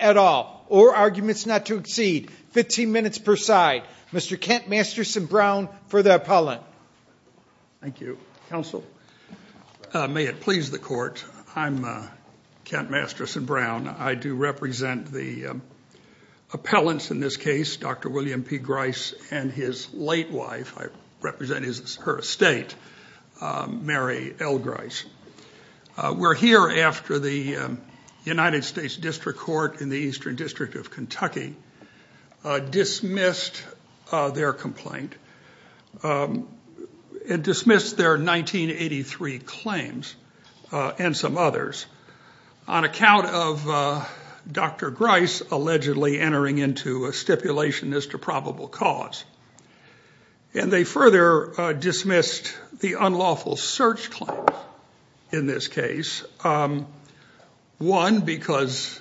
at all, or arguments not to exceed 15 minutes per side. Mr. Kent Masterson-Brown, for the appellant. Thank you. Counsel. May it please the court. I'm Kent Masterson-Brown. I do represent the appellants in this case, Dr. William P. Grise and his late wife. I represent her estate, Mary L. Grise. We're here after the United States District Court in the Eastern District of Kentucky dismissed their complaint and dismissed their 1983 claims and some others on account of Dr. Grise allegedly entering into a stipulation as to probable cause. And they further dismissed the unlawful search claim in this case. One, because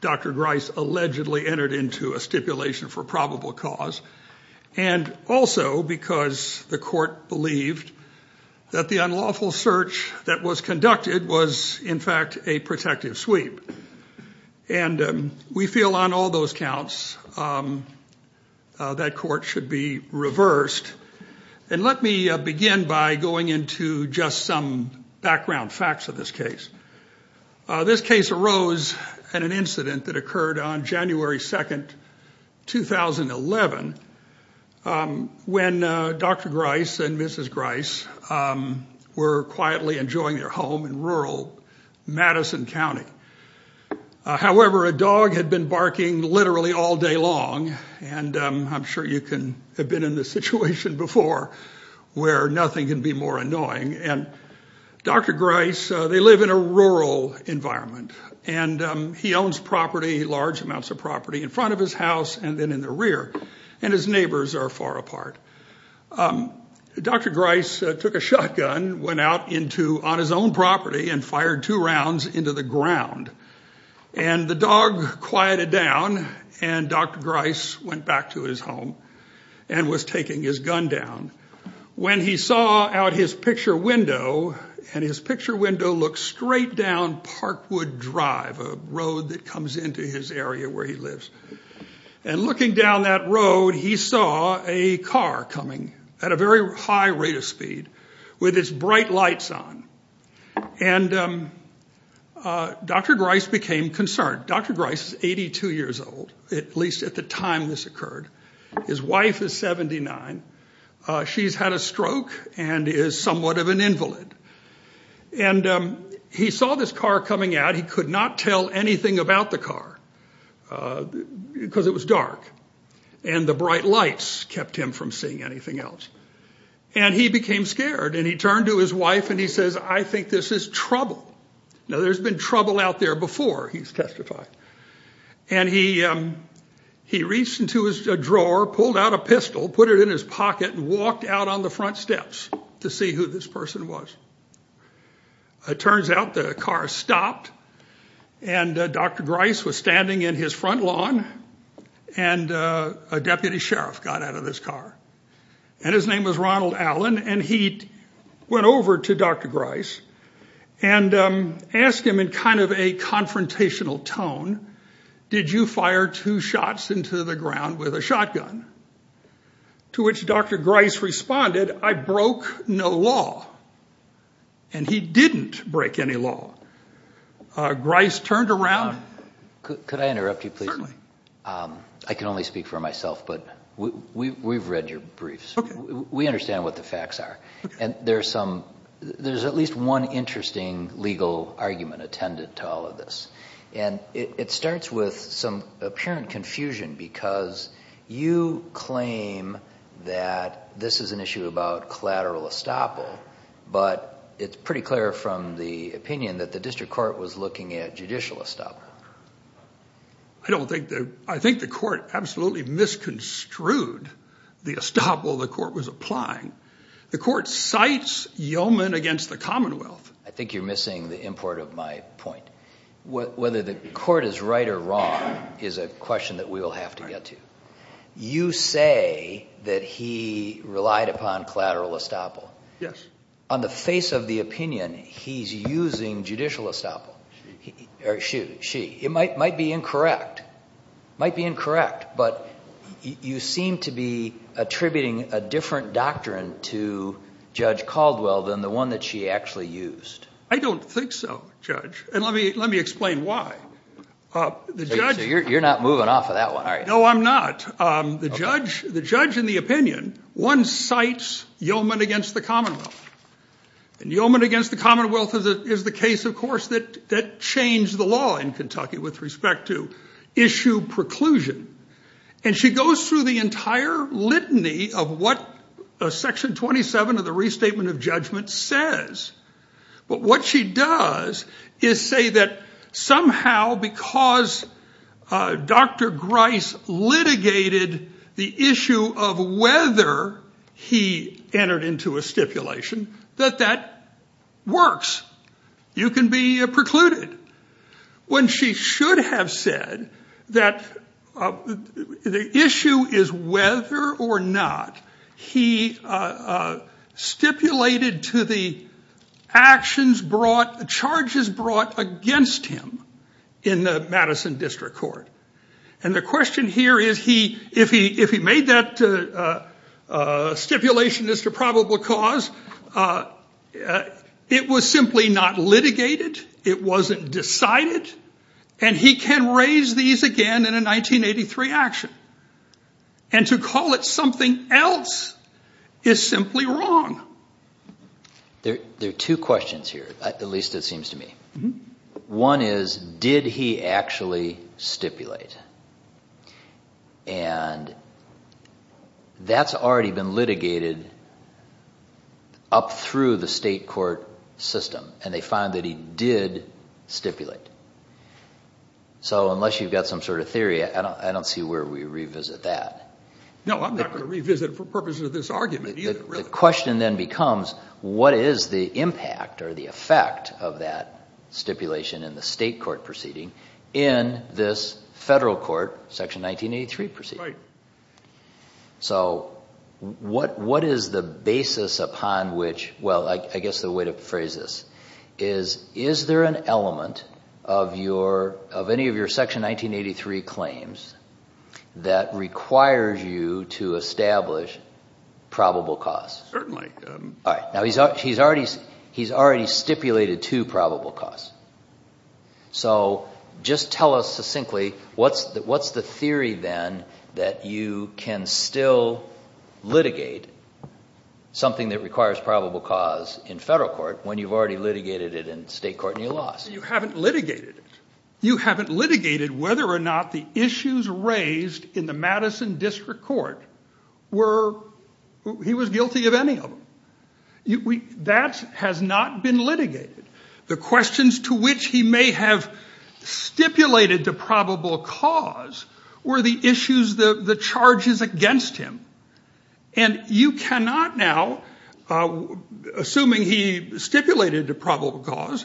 Dr. Grise allegedly entered into a stipulation for probable cause. And also because the court believed that the unlawful search that was conducted was in fact a protective sweep. And we feel on all those counts that court should be reversed. And let me begin by going into just some background facts of this case. This case arose in an incident that occurred on January 2nd, 2011, when Dr. Grise and Mrs. Grise were quietly enjoying their home in rural Madison County. However, a lot of parking literally all day long, and I'm sure you can have been in this situation before, where nothing can be more annoying. And Dr. Grise, they live in a rural environment. And he owns property, large amounts of property, in front of his house and then in the rear. And his neighbors are far apart. Dr. Grise took a shotgun, went out on his own property and fired two rounds into the ground. And the dog quieted down, and Dr. Grise went back to his home and was taking his gun down. When he saw out his picture window, and his picture window looks straight down Parkwood Drive, a road that comes into his area where he lives. And looking down that road, he saw a car coming at a very high rate of speed with its bright lights on. And Dr. Grise became concerned. Dr. Grise is 82 years old, at least at the time this occurred. His wife is 79. She's had a stroke and is somewhat of an invalid. And he saw this car coming out. He could not tell anything about the anything else. And he became scared. And he turned to his wife and he says, I think this is trouble. Now, there's been trouble out there before, he's testified. And he reached into his drawer, pulled out a pistol, put it in his pocket and walked out on the front steps to see who this person was. It turns out the car stopped. And Dr. Grise was standing in his front lawn. And a deputy sheriff got out of this car. And his name was Ronald Allen. And he went over to Dr. Grise and asked him in kind of a confrontational tone, did you fire two shots into the ground with a shotgun? To which Dr. Grise responded, I broke no law. And he didn't break any law. Grise turned around. Could I interrupt you, please? Certainly. I can only speak for myself, but we've read your briefs. We understand what the facts are. And there's at least one interesting legal argument attended to all of this. And it starts with some apparent confusion because you claim that this is an issue about collateral estoppel, but it's pretty clear from the opinion that the district court was looking at judicial estoppel. I think the court absolutely misconstrued the estoppel the court was applying. The court cites yeoman against the commonwealth. I think you're missing the import of my point. Whether the court is right or wrong is a question that we will have to get to. You say that he relied upon collateral estoppel. Yes. On the face of the opinion, he's using judicial estoppel. Or she. It might be incorrect. Might be incorrect. But you seem to be attributing a different doctrine to Judge Caldwell than the one that she actually used. I don't think so, Judge. And let me explain why. You're not moving off of that one, are you? No, I'm not. The judge, in the opinion, one cites yeoman against the commonwealth. And yeoman against the commonwealth is the case, of course, that changed the law in Kentucky with respect to issue preclusion. And she goes through the entire litany of what Section 27 of the Restatement of Litigated the issue of whether he entered into a stipulation, that that works. You can be precluded. When she should have said that the issue is whether or not he stipulated to the actions brought, charges brought against him in the Madison District Court. And the question here is, if he made that stipulation as to probable cause, it was simply not litigated. It wasn't decided. And he can raise these again in a 1983 action. And to call it something else is simply wrong. There are two questions here, at least it seems to me. One is, did he actually stipulate? And that's already been litigated up through the state court system. And they find that he did stipulate. So unless you've got some sort of theory, I don't see where we revisit that. No, I'm not going to revisit it for purposes of this argument either. The question then becomes, what is the impact or the effect of that stipulation in the state court proceeding in this federal court Section 1983 proceeding? Right. So what is the basis upon which, well, I guess the way to phrase this is, is there an element of any of your probable cause? Certainly. All right. Now, he's already stipulated two probable cause. So just tell us succinctly, what's the theory then that you can still litigate something that requires probable cause in federal court when you've already litigated it in state court and your laws? You haven't litigated it. You haven't litigated whether or not the issues raised in the Madison District Court were, he was guilty of any of them. That has not been litigated. The questions to which he may have stipulated the probable cause were the issues, the charges against him. And you cannot now, assuming he stipulated a probable cause,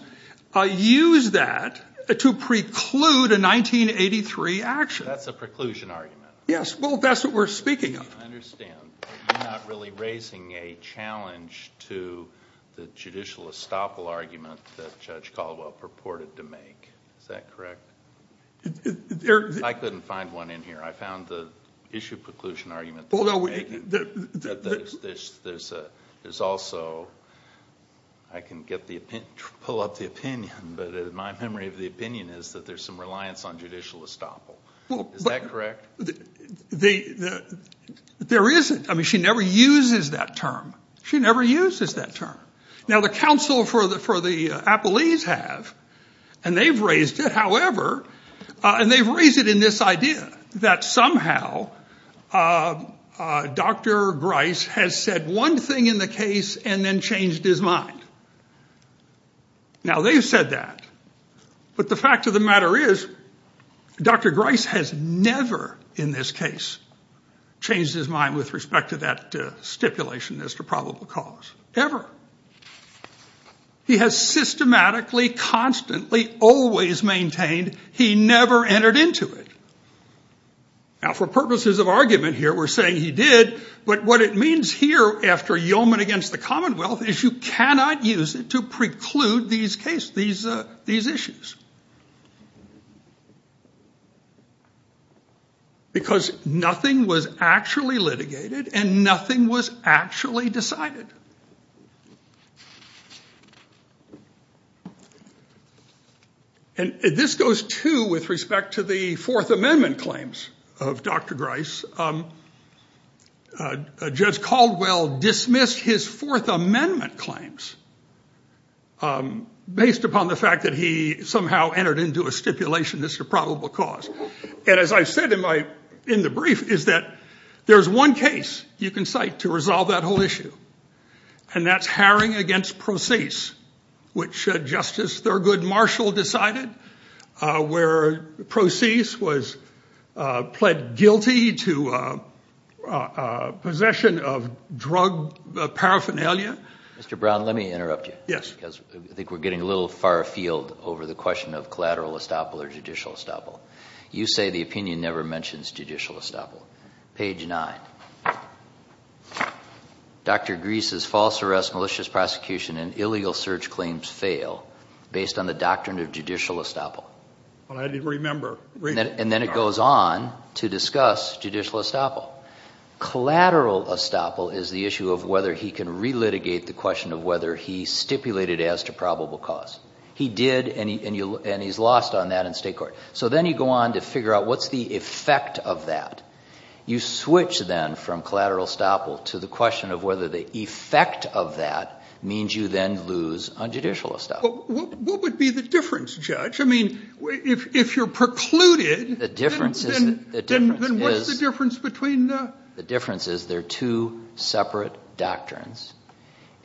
use that to preclude a 1983 action. That's a preclusion argument. Yes. Well, that's what we're speaking of. I understand, but you're not really raising a challenge to the judicial estoppel argument that Judge Caldwell purported to make. Is that correct? I couldn't find one in here. I found the issue preclusion argument. There's also, I can pull up the opinion, but my memory of the opinion is that there's some reliance on judicial estoppel. Is that correct? There isn't. I mean, she never uses that term. She never uses that term. Now the counsel for the Appellees have, and they've raised it, however, and they've raised it in this idea that somehow Dr. Grice has said one thing in the case and then changed his mind. Now they've said that, but the fact of the matter is Dr. Grice has never in this case changed his mind with respect to that stipulation as to probable cause, ever. He has systematically, constantly, always maintained he never entered into it. Now for purposes of argument here, we're saying he did, but what it means here after yeoman against the commonwealth is you cannot use it to preclude these issues. Because nothing was actually litigated and nothing was actually decided. And this goes, too, with respect to the Fourth Amendment claims of Dr. Grice. Judge Caldwell dismissed his Fourth Amendment claims based upon the fact that he somehow entered into a stipulation as to probable cause. And as I said in the brief, is that there's one case you can cite to resolve that whole issue. And that's Haring against Procease, which Justice Thurgood Marshall decided, where Procease was pled guilty to possession of drug paraphernalia. Mr. Brown, let me interrupt you. Yes. Because I think we're getting a little far afield over the question of collateral estoppel or judicial estoppel. You say the opinion never mentions judicial estoppel. Page 9. Dr. Grice's false arrest, malicious prosecution, and illegal search claims fail based on the doctrine of judicial estoppel. I didn't remember. And then it goes on to discuss judicial estoppel. Collateral estoppel is the issue of whether he can relitigate the question of whether he stipulated as to probable cause. He did, and he's lost on that in state court. So then you go on to figure out what's the effect of that. You switch, then, from collateral estoppel to the question of whether the effect of that means you then lose on judicial estoppel. But what would be the difference, Judge? I mean, if you're precluded, then what's the difference between the — The difference is there are two separate doctrines,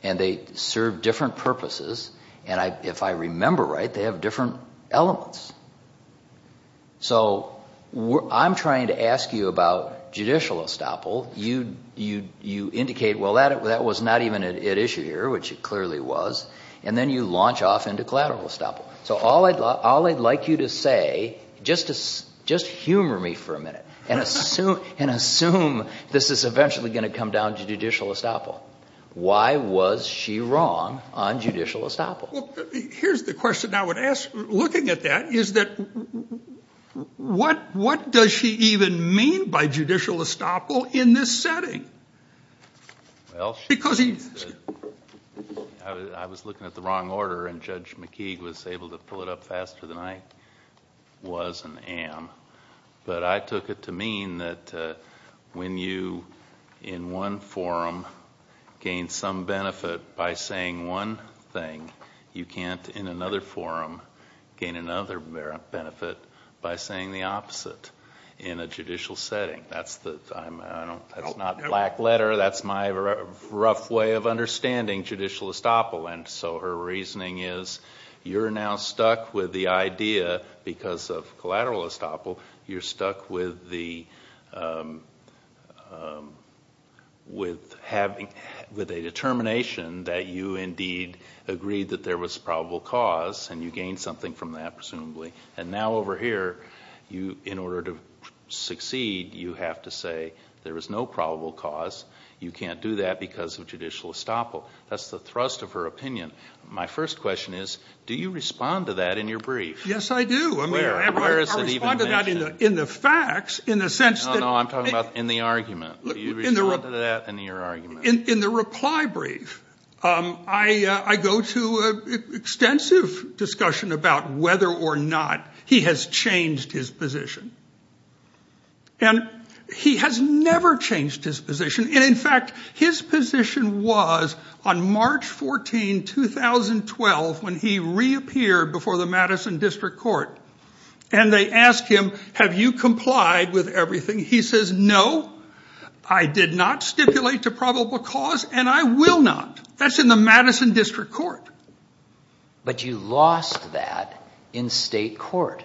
and they serve different purposes. And if I remember right, they have different elements. So I'm trying to ask you about judicial estoppel. You indicate, well, that was not even an issue here, which it clearly was. And then you launch off into collateral estoppel. So all I'd like you to say, just humor me for a minute and assume this is eventually going to come down to judicial estoppel. Why was she wrong on judicial estoppel? Well, here's the question I would ask, looking at that, is that what does she even mean by judicial estoppel in this setting? Well, I was looking at the wrong order, and Judge McKeague was able to pull it up faster than I was and am. But I took it to mean that when you, in one forum, gain some benefit by saying one thing, you can't, in another forum, gain another benefit by saying the opposite in a judicial setting. That's not black letter. That's my rough way of understanding judicial estoppel. And so her reasoning is you're now stuck with the idea, because of collateral estoppel, you're stuck with a determination that you indeed agreed that there was probable cause, and you gained something from that, presumably. And now over here, in order to succeed, you have to say there is no probable cause. You can't do that because of judicial estoppel. That's the thrust of her opinion. My first question is, do you respond to that in your brief? Yes, I do. Where is it even mentioned? I respond to that in the facts, in the sense that – No, no, I'm talking about in the argument. Do you respond to that in your argument? In the reply brief, I go to extensive discussion about whether or not he has changed his position. And he has never changed his position. And, in fact, his position was on March 14, 2012, when he reappeared before the Madison District Court, and they asked him, have you complied with everything? He says, no, I did not stipulate a probable cause, and I will not. That's in the Madison District Court. But you lost that in state court.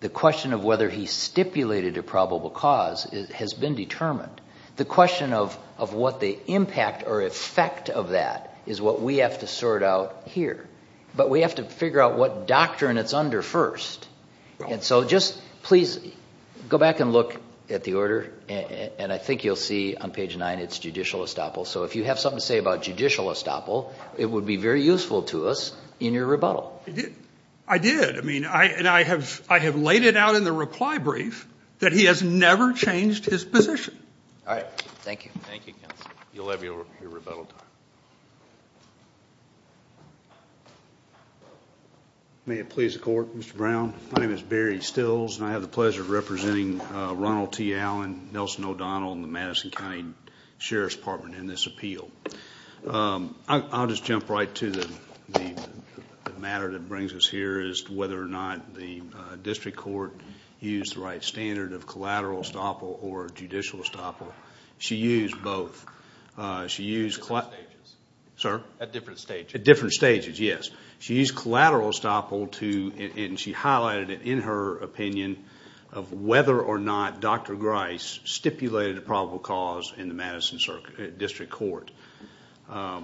The question of whether he stipulated a probable cause has been determined. The question of what the impact or effect of that is what we have to sort out here. But we have to figure out what doctrine it's under first. And so just please go back and look at the order, and I think you'll see on page 9 it's judicial estoppel. So if you have something to say about judicial estoppel, it would be very useful to us in your rebuttal. I did. I mean, and I have laid it out in the reply brief that he has never changed his position. All right. Thank you. Thank you, counsel. You'll have your rebuttal time. May it please the Court, Mr. Brown. My name is Barry Stills, and I have the pleasure of representing Ronald T. Allen, Nelson O'Donnell, and the Madison County Sheriff's Department in this appeal. I'll just jump right to the matter that brings us here, is whether or not the district court used the right standard of collateral estoppel or judicial estoppel. She used both. At different stages. Sir? At different stages. At different stages, yes. She used collateral estoppel to, and she highlighted it in her opinion, of whether or not Dr. Grice stipulated a probable cause in the Madison district court. I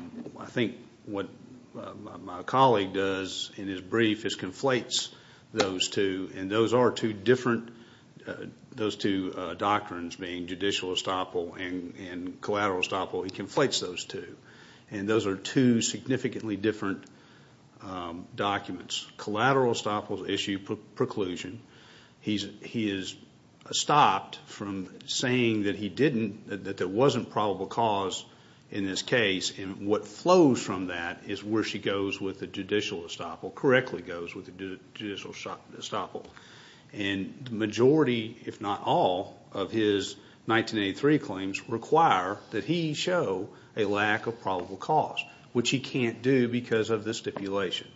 think what my colleague does in his brief is conflates those two, and those are two different doctrines being judicial estoppel and collateral estoppel. He conflates those two, and those are two significantly different documents. In Dr. Grice's collateral estoppel issue preclusion, he is stopped from saying that he didn't, that there wasn't probable cause in this case, and what flows from that is where she goes with the judicial estoppel, correctly goes with the judicial estoppel. And the majority, if not all, of his 1983 claims require that he show a lack of probable cause, which he can't do because of the stipulation.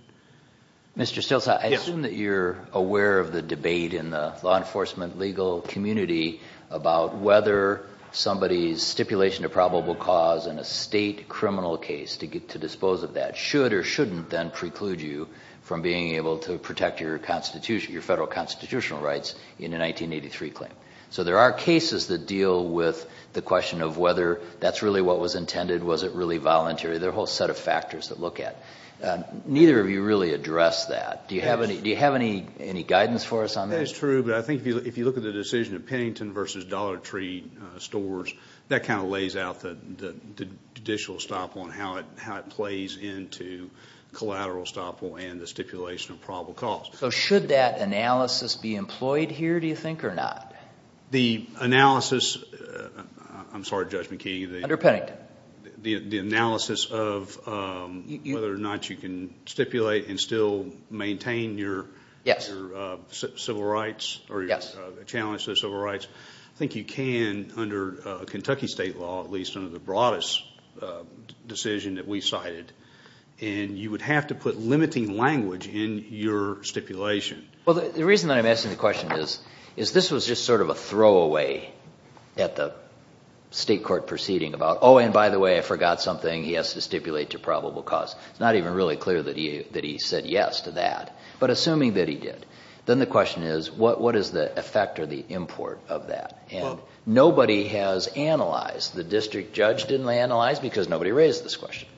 Mr. Stilts, I assume that you're aware of the debate in the law enforcement legal community about whether somebody's stipulation of probable cause in a state criminal case to dispose of that should or shouldn't then preclude you from being able to protect your federal constitutional rights in a 1983 claim. So there are cases that deal with the question of whether that's really what was intended, was it really voluntary, there are a whole set of factors to look at. Neither of you really address that. Do you have any guidance for us on that? That is true, but I think if you look at the decision of Pennington versus Dollar Tree stores, that kind of lays out the judicial estoppel and how it plays into collateral estoppel and the stipulation of probable cause. So should that analysis be employed here, do you think, or not? The analysis, I'm sorry, Judge McKee. Under Pennington. The analysis of whether or not you can stipulate and still maintain your civil rights or your challenge to civil rights. I think you can under Kentucky state law, at least under the broadest decision that we cited, and you would have to put limiting language in your stipulation. Well, the reason that I'm asking the question is this was just sort of a throwaway at the state court proceeding about, oh, and by the way, I forgot something, he has to stipulate to probable cause. It's not even really clear that he said yes to that. But assuming that he did, then the question is what is the effect or the import of that? And nobody has analyzed, the district judge didn't analyze because nobody raised this question.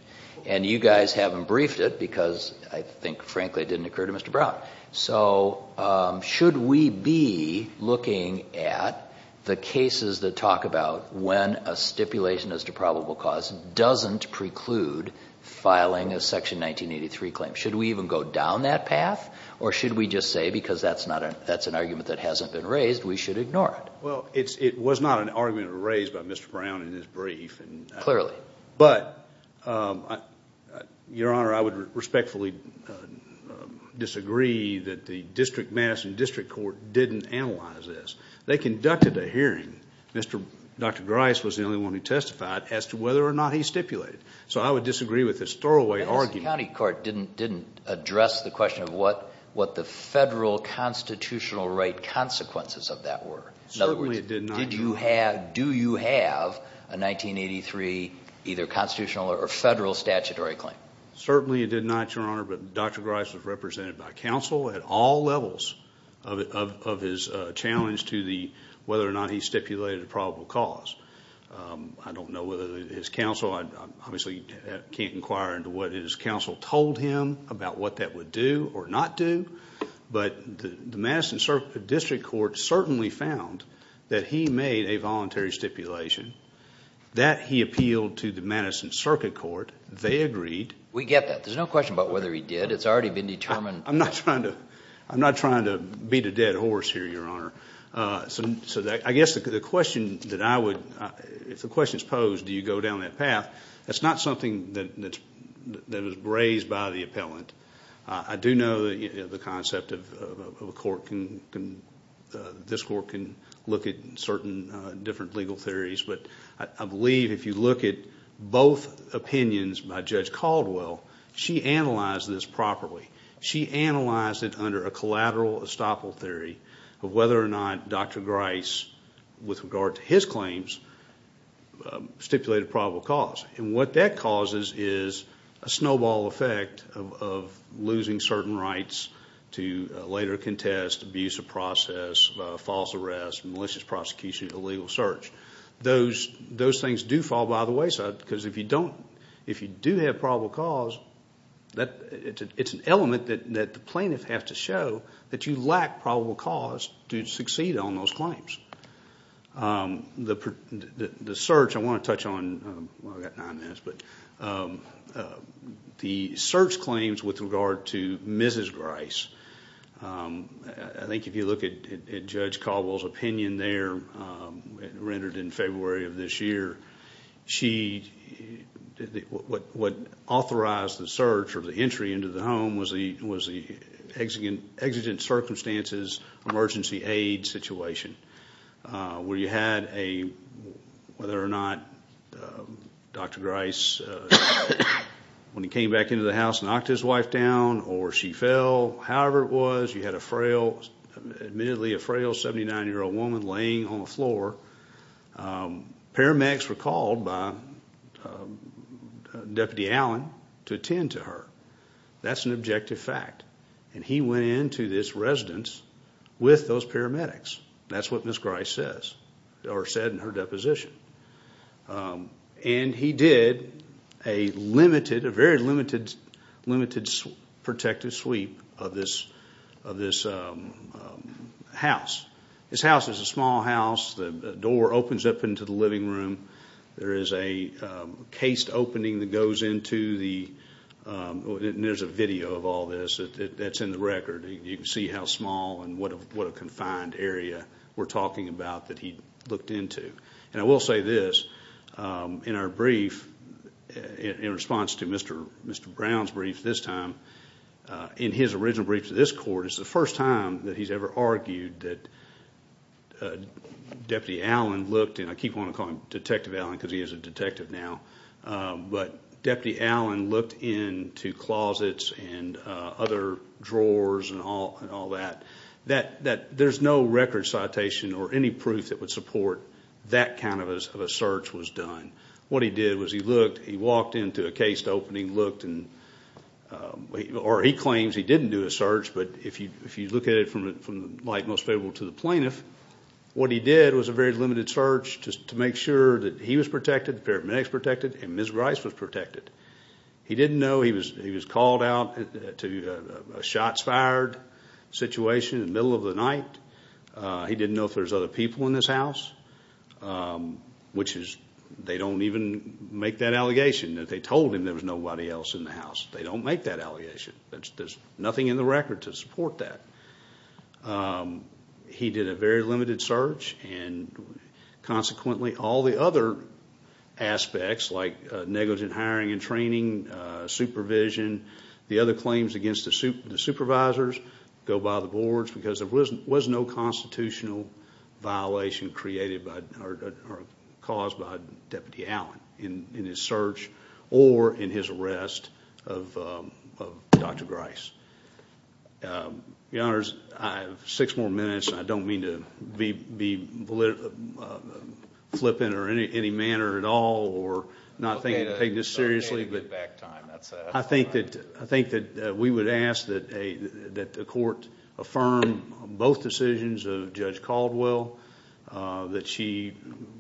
And you guys haven't briefed it because I think, frankly, it didn't occur to Mr. Brown. So should we be looking at the cases that talk about when a stipulation is to probable cause doesn't preclude filing a Section 1983 claim? Should we even go down that path? Or should we just say because that's an argument that hasn't been raised, we should ignore it? Well, it was not an argument raised by Mr. Brown in his brief. Clearly. But, Your Honor, I would respectfully disagree that the district mass and district court didn't analyze this. They conducted a hearing. Dr. Grice was the only one who testified as to whether or not he stipulated. So I would disagree with this throwaway argument. I guess the county court didn't address the question of what the federal constitutional right consequences of that were. Certainly it did not. Do you have a 1983 either constitutional or federal statutory claim? Certainly it did not, Your Honor. But Dr. Grice was represented by counsel at all levels of his challenge to whether or not he stipulated a probable cause. I don't know whether his counsel, I obviously can't inquire into what his counsel told him about what that would do or not do. But the Madison district court certainly found that he made a voluntary stipulation. That he appealed to the Madison circuit court. They agreed. We get that. There's no question about whether he did. It's already been determined. I'm not trying to beat a dead horse here, Your Honor. So I guess the question that I would, if the question is posed, do you go down that path, that's not something that was raised by the appellant. I do know the concept of a court can, this court can look at certain different legal theories. But I believe if you look at both opinions by Judge Caldwell, she analyzed this properly. She analyzed it under a collateral estoppel theory of whether or not Dr. Grice, with regard to his claims, stipulated a probable cause. And what that causes is a snowball effect of losing certain rights to later contest, abuse of process, false arrest, malicious prosecution, illegal search. Those things do fall by the wayside. Because if you do have probable cause, it's an element that the plaintiff has to show that you lack probable cause to succeed on those claims. The search, I want to touch on, I've got nine minutes, but the search claims with regard to Mrs. Grice, I think if you look at Judge Caldwell's opinion there, rendered in February of this year, she, what authorized the search or the entry into the home was the exigent circumstances emergency aid situation. Where you had a, whether or not Dr. Grice, when he came back into the house, knocked his wife down or she fell. However it was, you had a frail, admittedly a frail 79-year-old woman laying on the floor. Paramedics were called by Deputy Allen to attend to her. That's an objective fact. And he went into this residence with those paramedics. That's what Mrs. Grice says, or said in her deposition. And he did a limited, a very limited, limited protective sweep of this house. This house is a small house. The door opens up into the living room. There is a cased opening that goes into the, and there's a video of all this that's in the record. You can see how small and what a confined area we're talking about that he looked into. And I will say this, in our brief, in response to Mr. Brown's brief this time, in his original brief to this court, it's the first time that he's ever argued that Deputy Allen looked, and I keep wanting to call him Detective Allen because he is a detective now, but Deputy Allen looked into closets and other drawers and all that. There's no record citation or any proof that would support that kind of a search was done. And what he did was he looked, he walked into a cased opening, looked, or he claims he didn't do a search, but if you look at it from the light most favorable to the plaintiff, what he did was a very limited search just to make sure that he was protected, the paramedics protected, and Mrs. Grice was protected. He didn't know he was called out to a shots fired situation in the middle of the night. He didn't know if there's other people in this house, which is, they don't even make that allegation that they told him there was nobody else in the house. They don't make that allegation. There's nothing in the record to support that. He did a very limited search, and consequently all the other aspects, like negligent hiring and training, supervision, the other claims against the supervisors, go by the boards because there was no constitutional violation created or caused by Deputy Allen in his search or in his arrest of Dr. Grice. Your Honors, I have six more minutes, and I don't mean to be flippant or any manner at all or not take this seriously, but I think that we would ask that the court affirm both decisions of Judge Caldwell, that she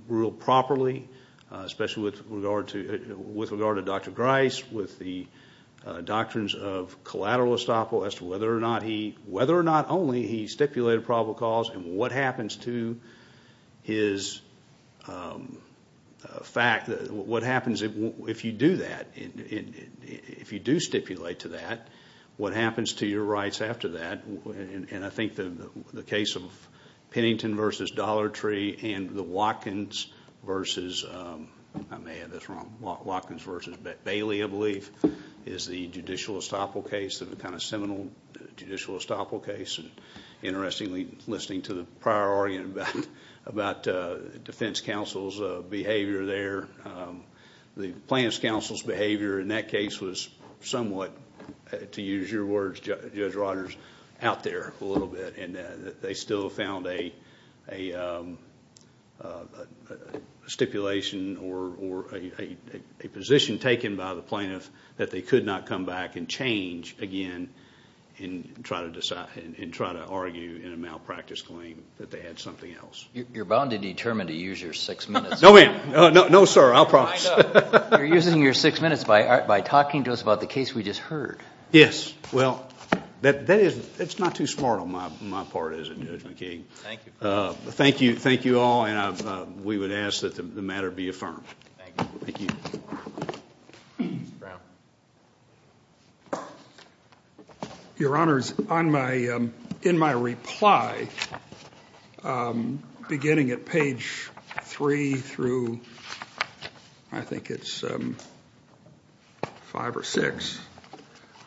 ruled properly, especially with regard to Dr. Grice, with the doctrines of collateral estoppel as to whether or not only he stipulated probable cause and what happens to his fact. If you do stipulate to that, what happens to your rights after that? I think the case of Pennington v. Dollar Tree and the Watkins v. Bailey, I believe, is the judicial estoppel case, the seminal judicial estoppel case. Interestingly, listening to the prior argument about defense counsel's behavior there, the plaintiff's counsel's behavior in that case was somewhat, to use your words, Judge Rodgers, out there a little bit. They still found a stipulation or a position taken by the plaintiff that they could not come back and change again and try to argue in a malpractice claim that they had something else. You're bound and determined to use your six minutes. No, ma'am. No, sir. I'll promise. You're using your six minutes by talking to us about the case we just heard. Yes. Well, it's not too smart on my part, is it, Judge McKee? Thank you. Thank you all, and we would ask that the matter be affirmed. Thank you. Thank you. Mr. Brown. Your Honors, in my reply, beginning at page 3 through I think it's 5 or 6,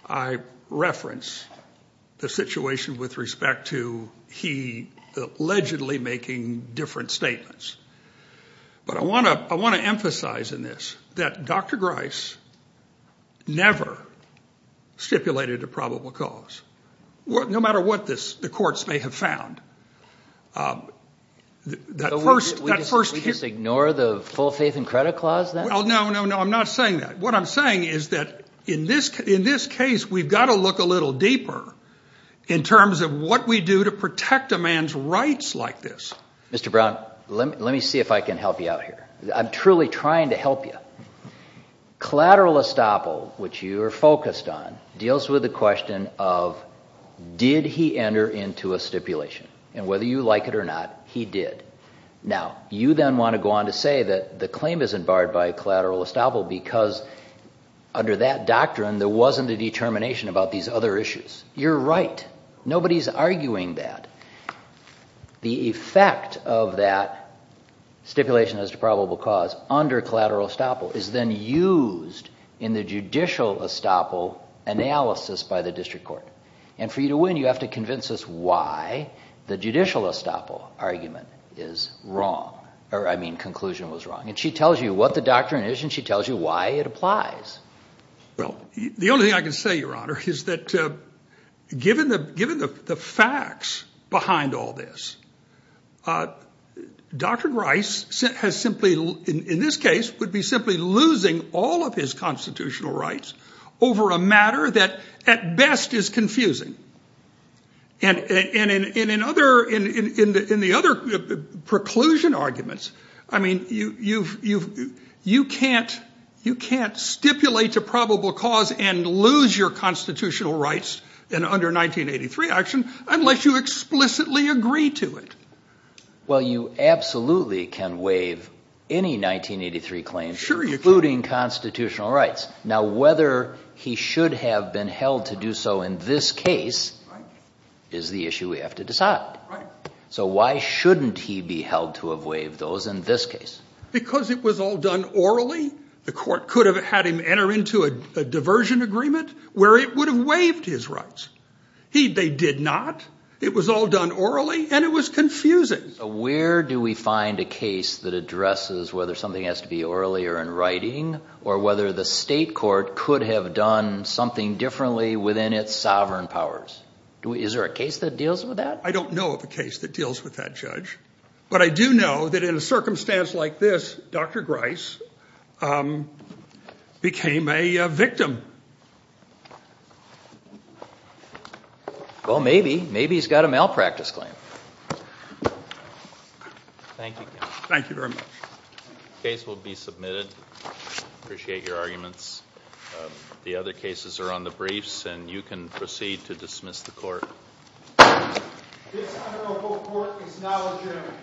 I reference the situation with respect to he allegedly making different statements. But I want to emphasize in this that Dr. Grice never stipulated a probable cause, no matter what the courts may have found. So we just ignore the full faith and credit clause then? No, no, no. I'm not saying that. What I'm saying is that in this case we've got to look a little deeper in terms of what we do to protect a man's rights like this. Mr. Brown, let me see if I can help you out here. I'm truly trying to help you. Collateral estoppel, which you are focused on, deals with the question of did he enter into a stipulation. And whether you like it or not, he did. Now, you then want to go on to say that the claim isn't barred by collateral estoppel because under that doctrine there wasn't a determination about these other issues. You're right. Nobody's arguing that. The effect of that stipulation as to probable cause under collateral estoppel is then used in the judicial estoppel analysis by the district court. And for you to win you have to convince us why the judicial estoppel argument is wrong, or I mean conclusion was wrong. And she tells you what the doctrine is and she tells you why it applies. Well, the only thing I can say, Your Honor, is that given the facts behind all this, Dr. Grice has simply, in this case, would be simply losing all of his constitutional rights over a matter that at best is confusing. And in the other preclusion arguments, I mean, you can't stipulate to probable cause and lose your constitutional rights under 1983 action unless you explicitly agree to it. Well, you absolutely can waive any 1983 claim, including constitutional rights. Now, whether he should have been held to do so in this case is the issue we have to decide. So why shouldn't he be held to have waived those in this case? Because it was all done orally. The court could have had him enter into a diversion agreement where it would have waived his rights. They did not. It was all done orally and it was confusing. Where do we find a case that addresses whether something has to be orally or in writing or whether the state court could have done something differently within its sovereign powers? Is there a case that deals with that? I don't know of a case that deals with that, Judge. But I do know that in a circumstance like this, Dr. Grice became a victim. Well, maybe. Maybe he's got a malpractice claim. Thank you. Thank you very much. The case will be submitted. I appreciate your arguments. The other cases are on the briefs, and you can proceed to dismiss the court. This honorable court is now adjourned.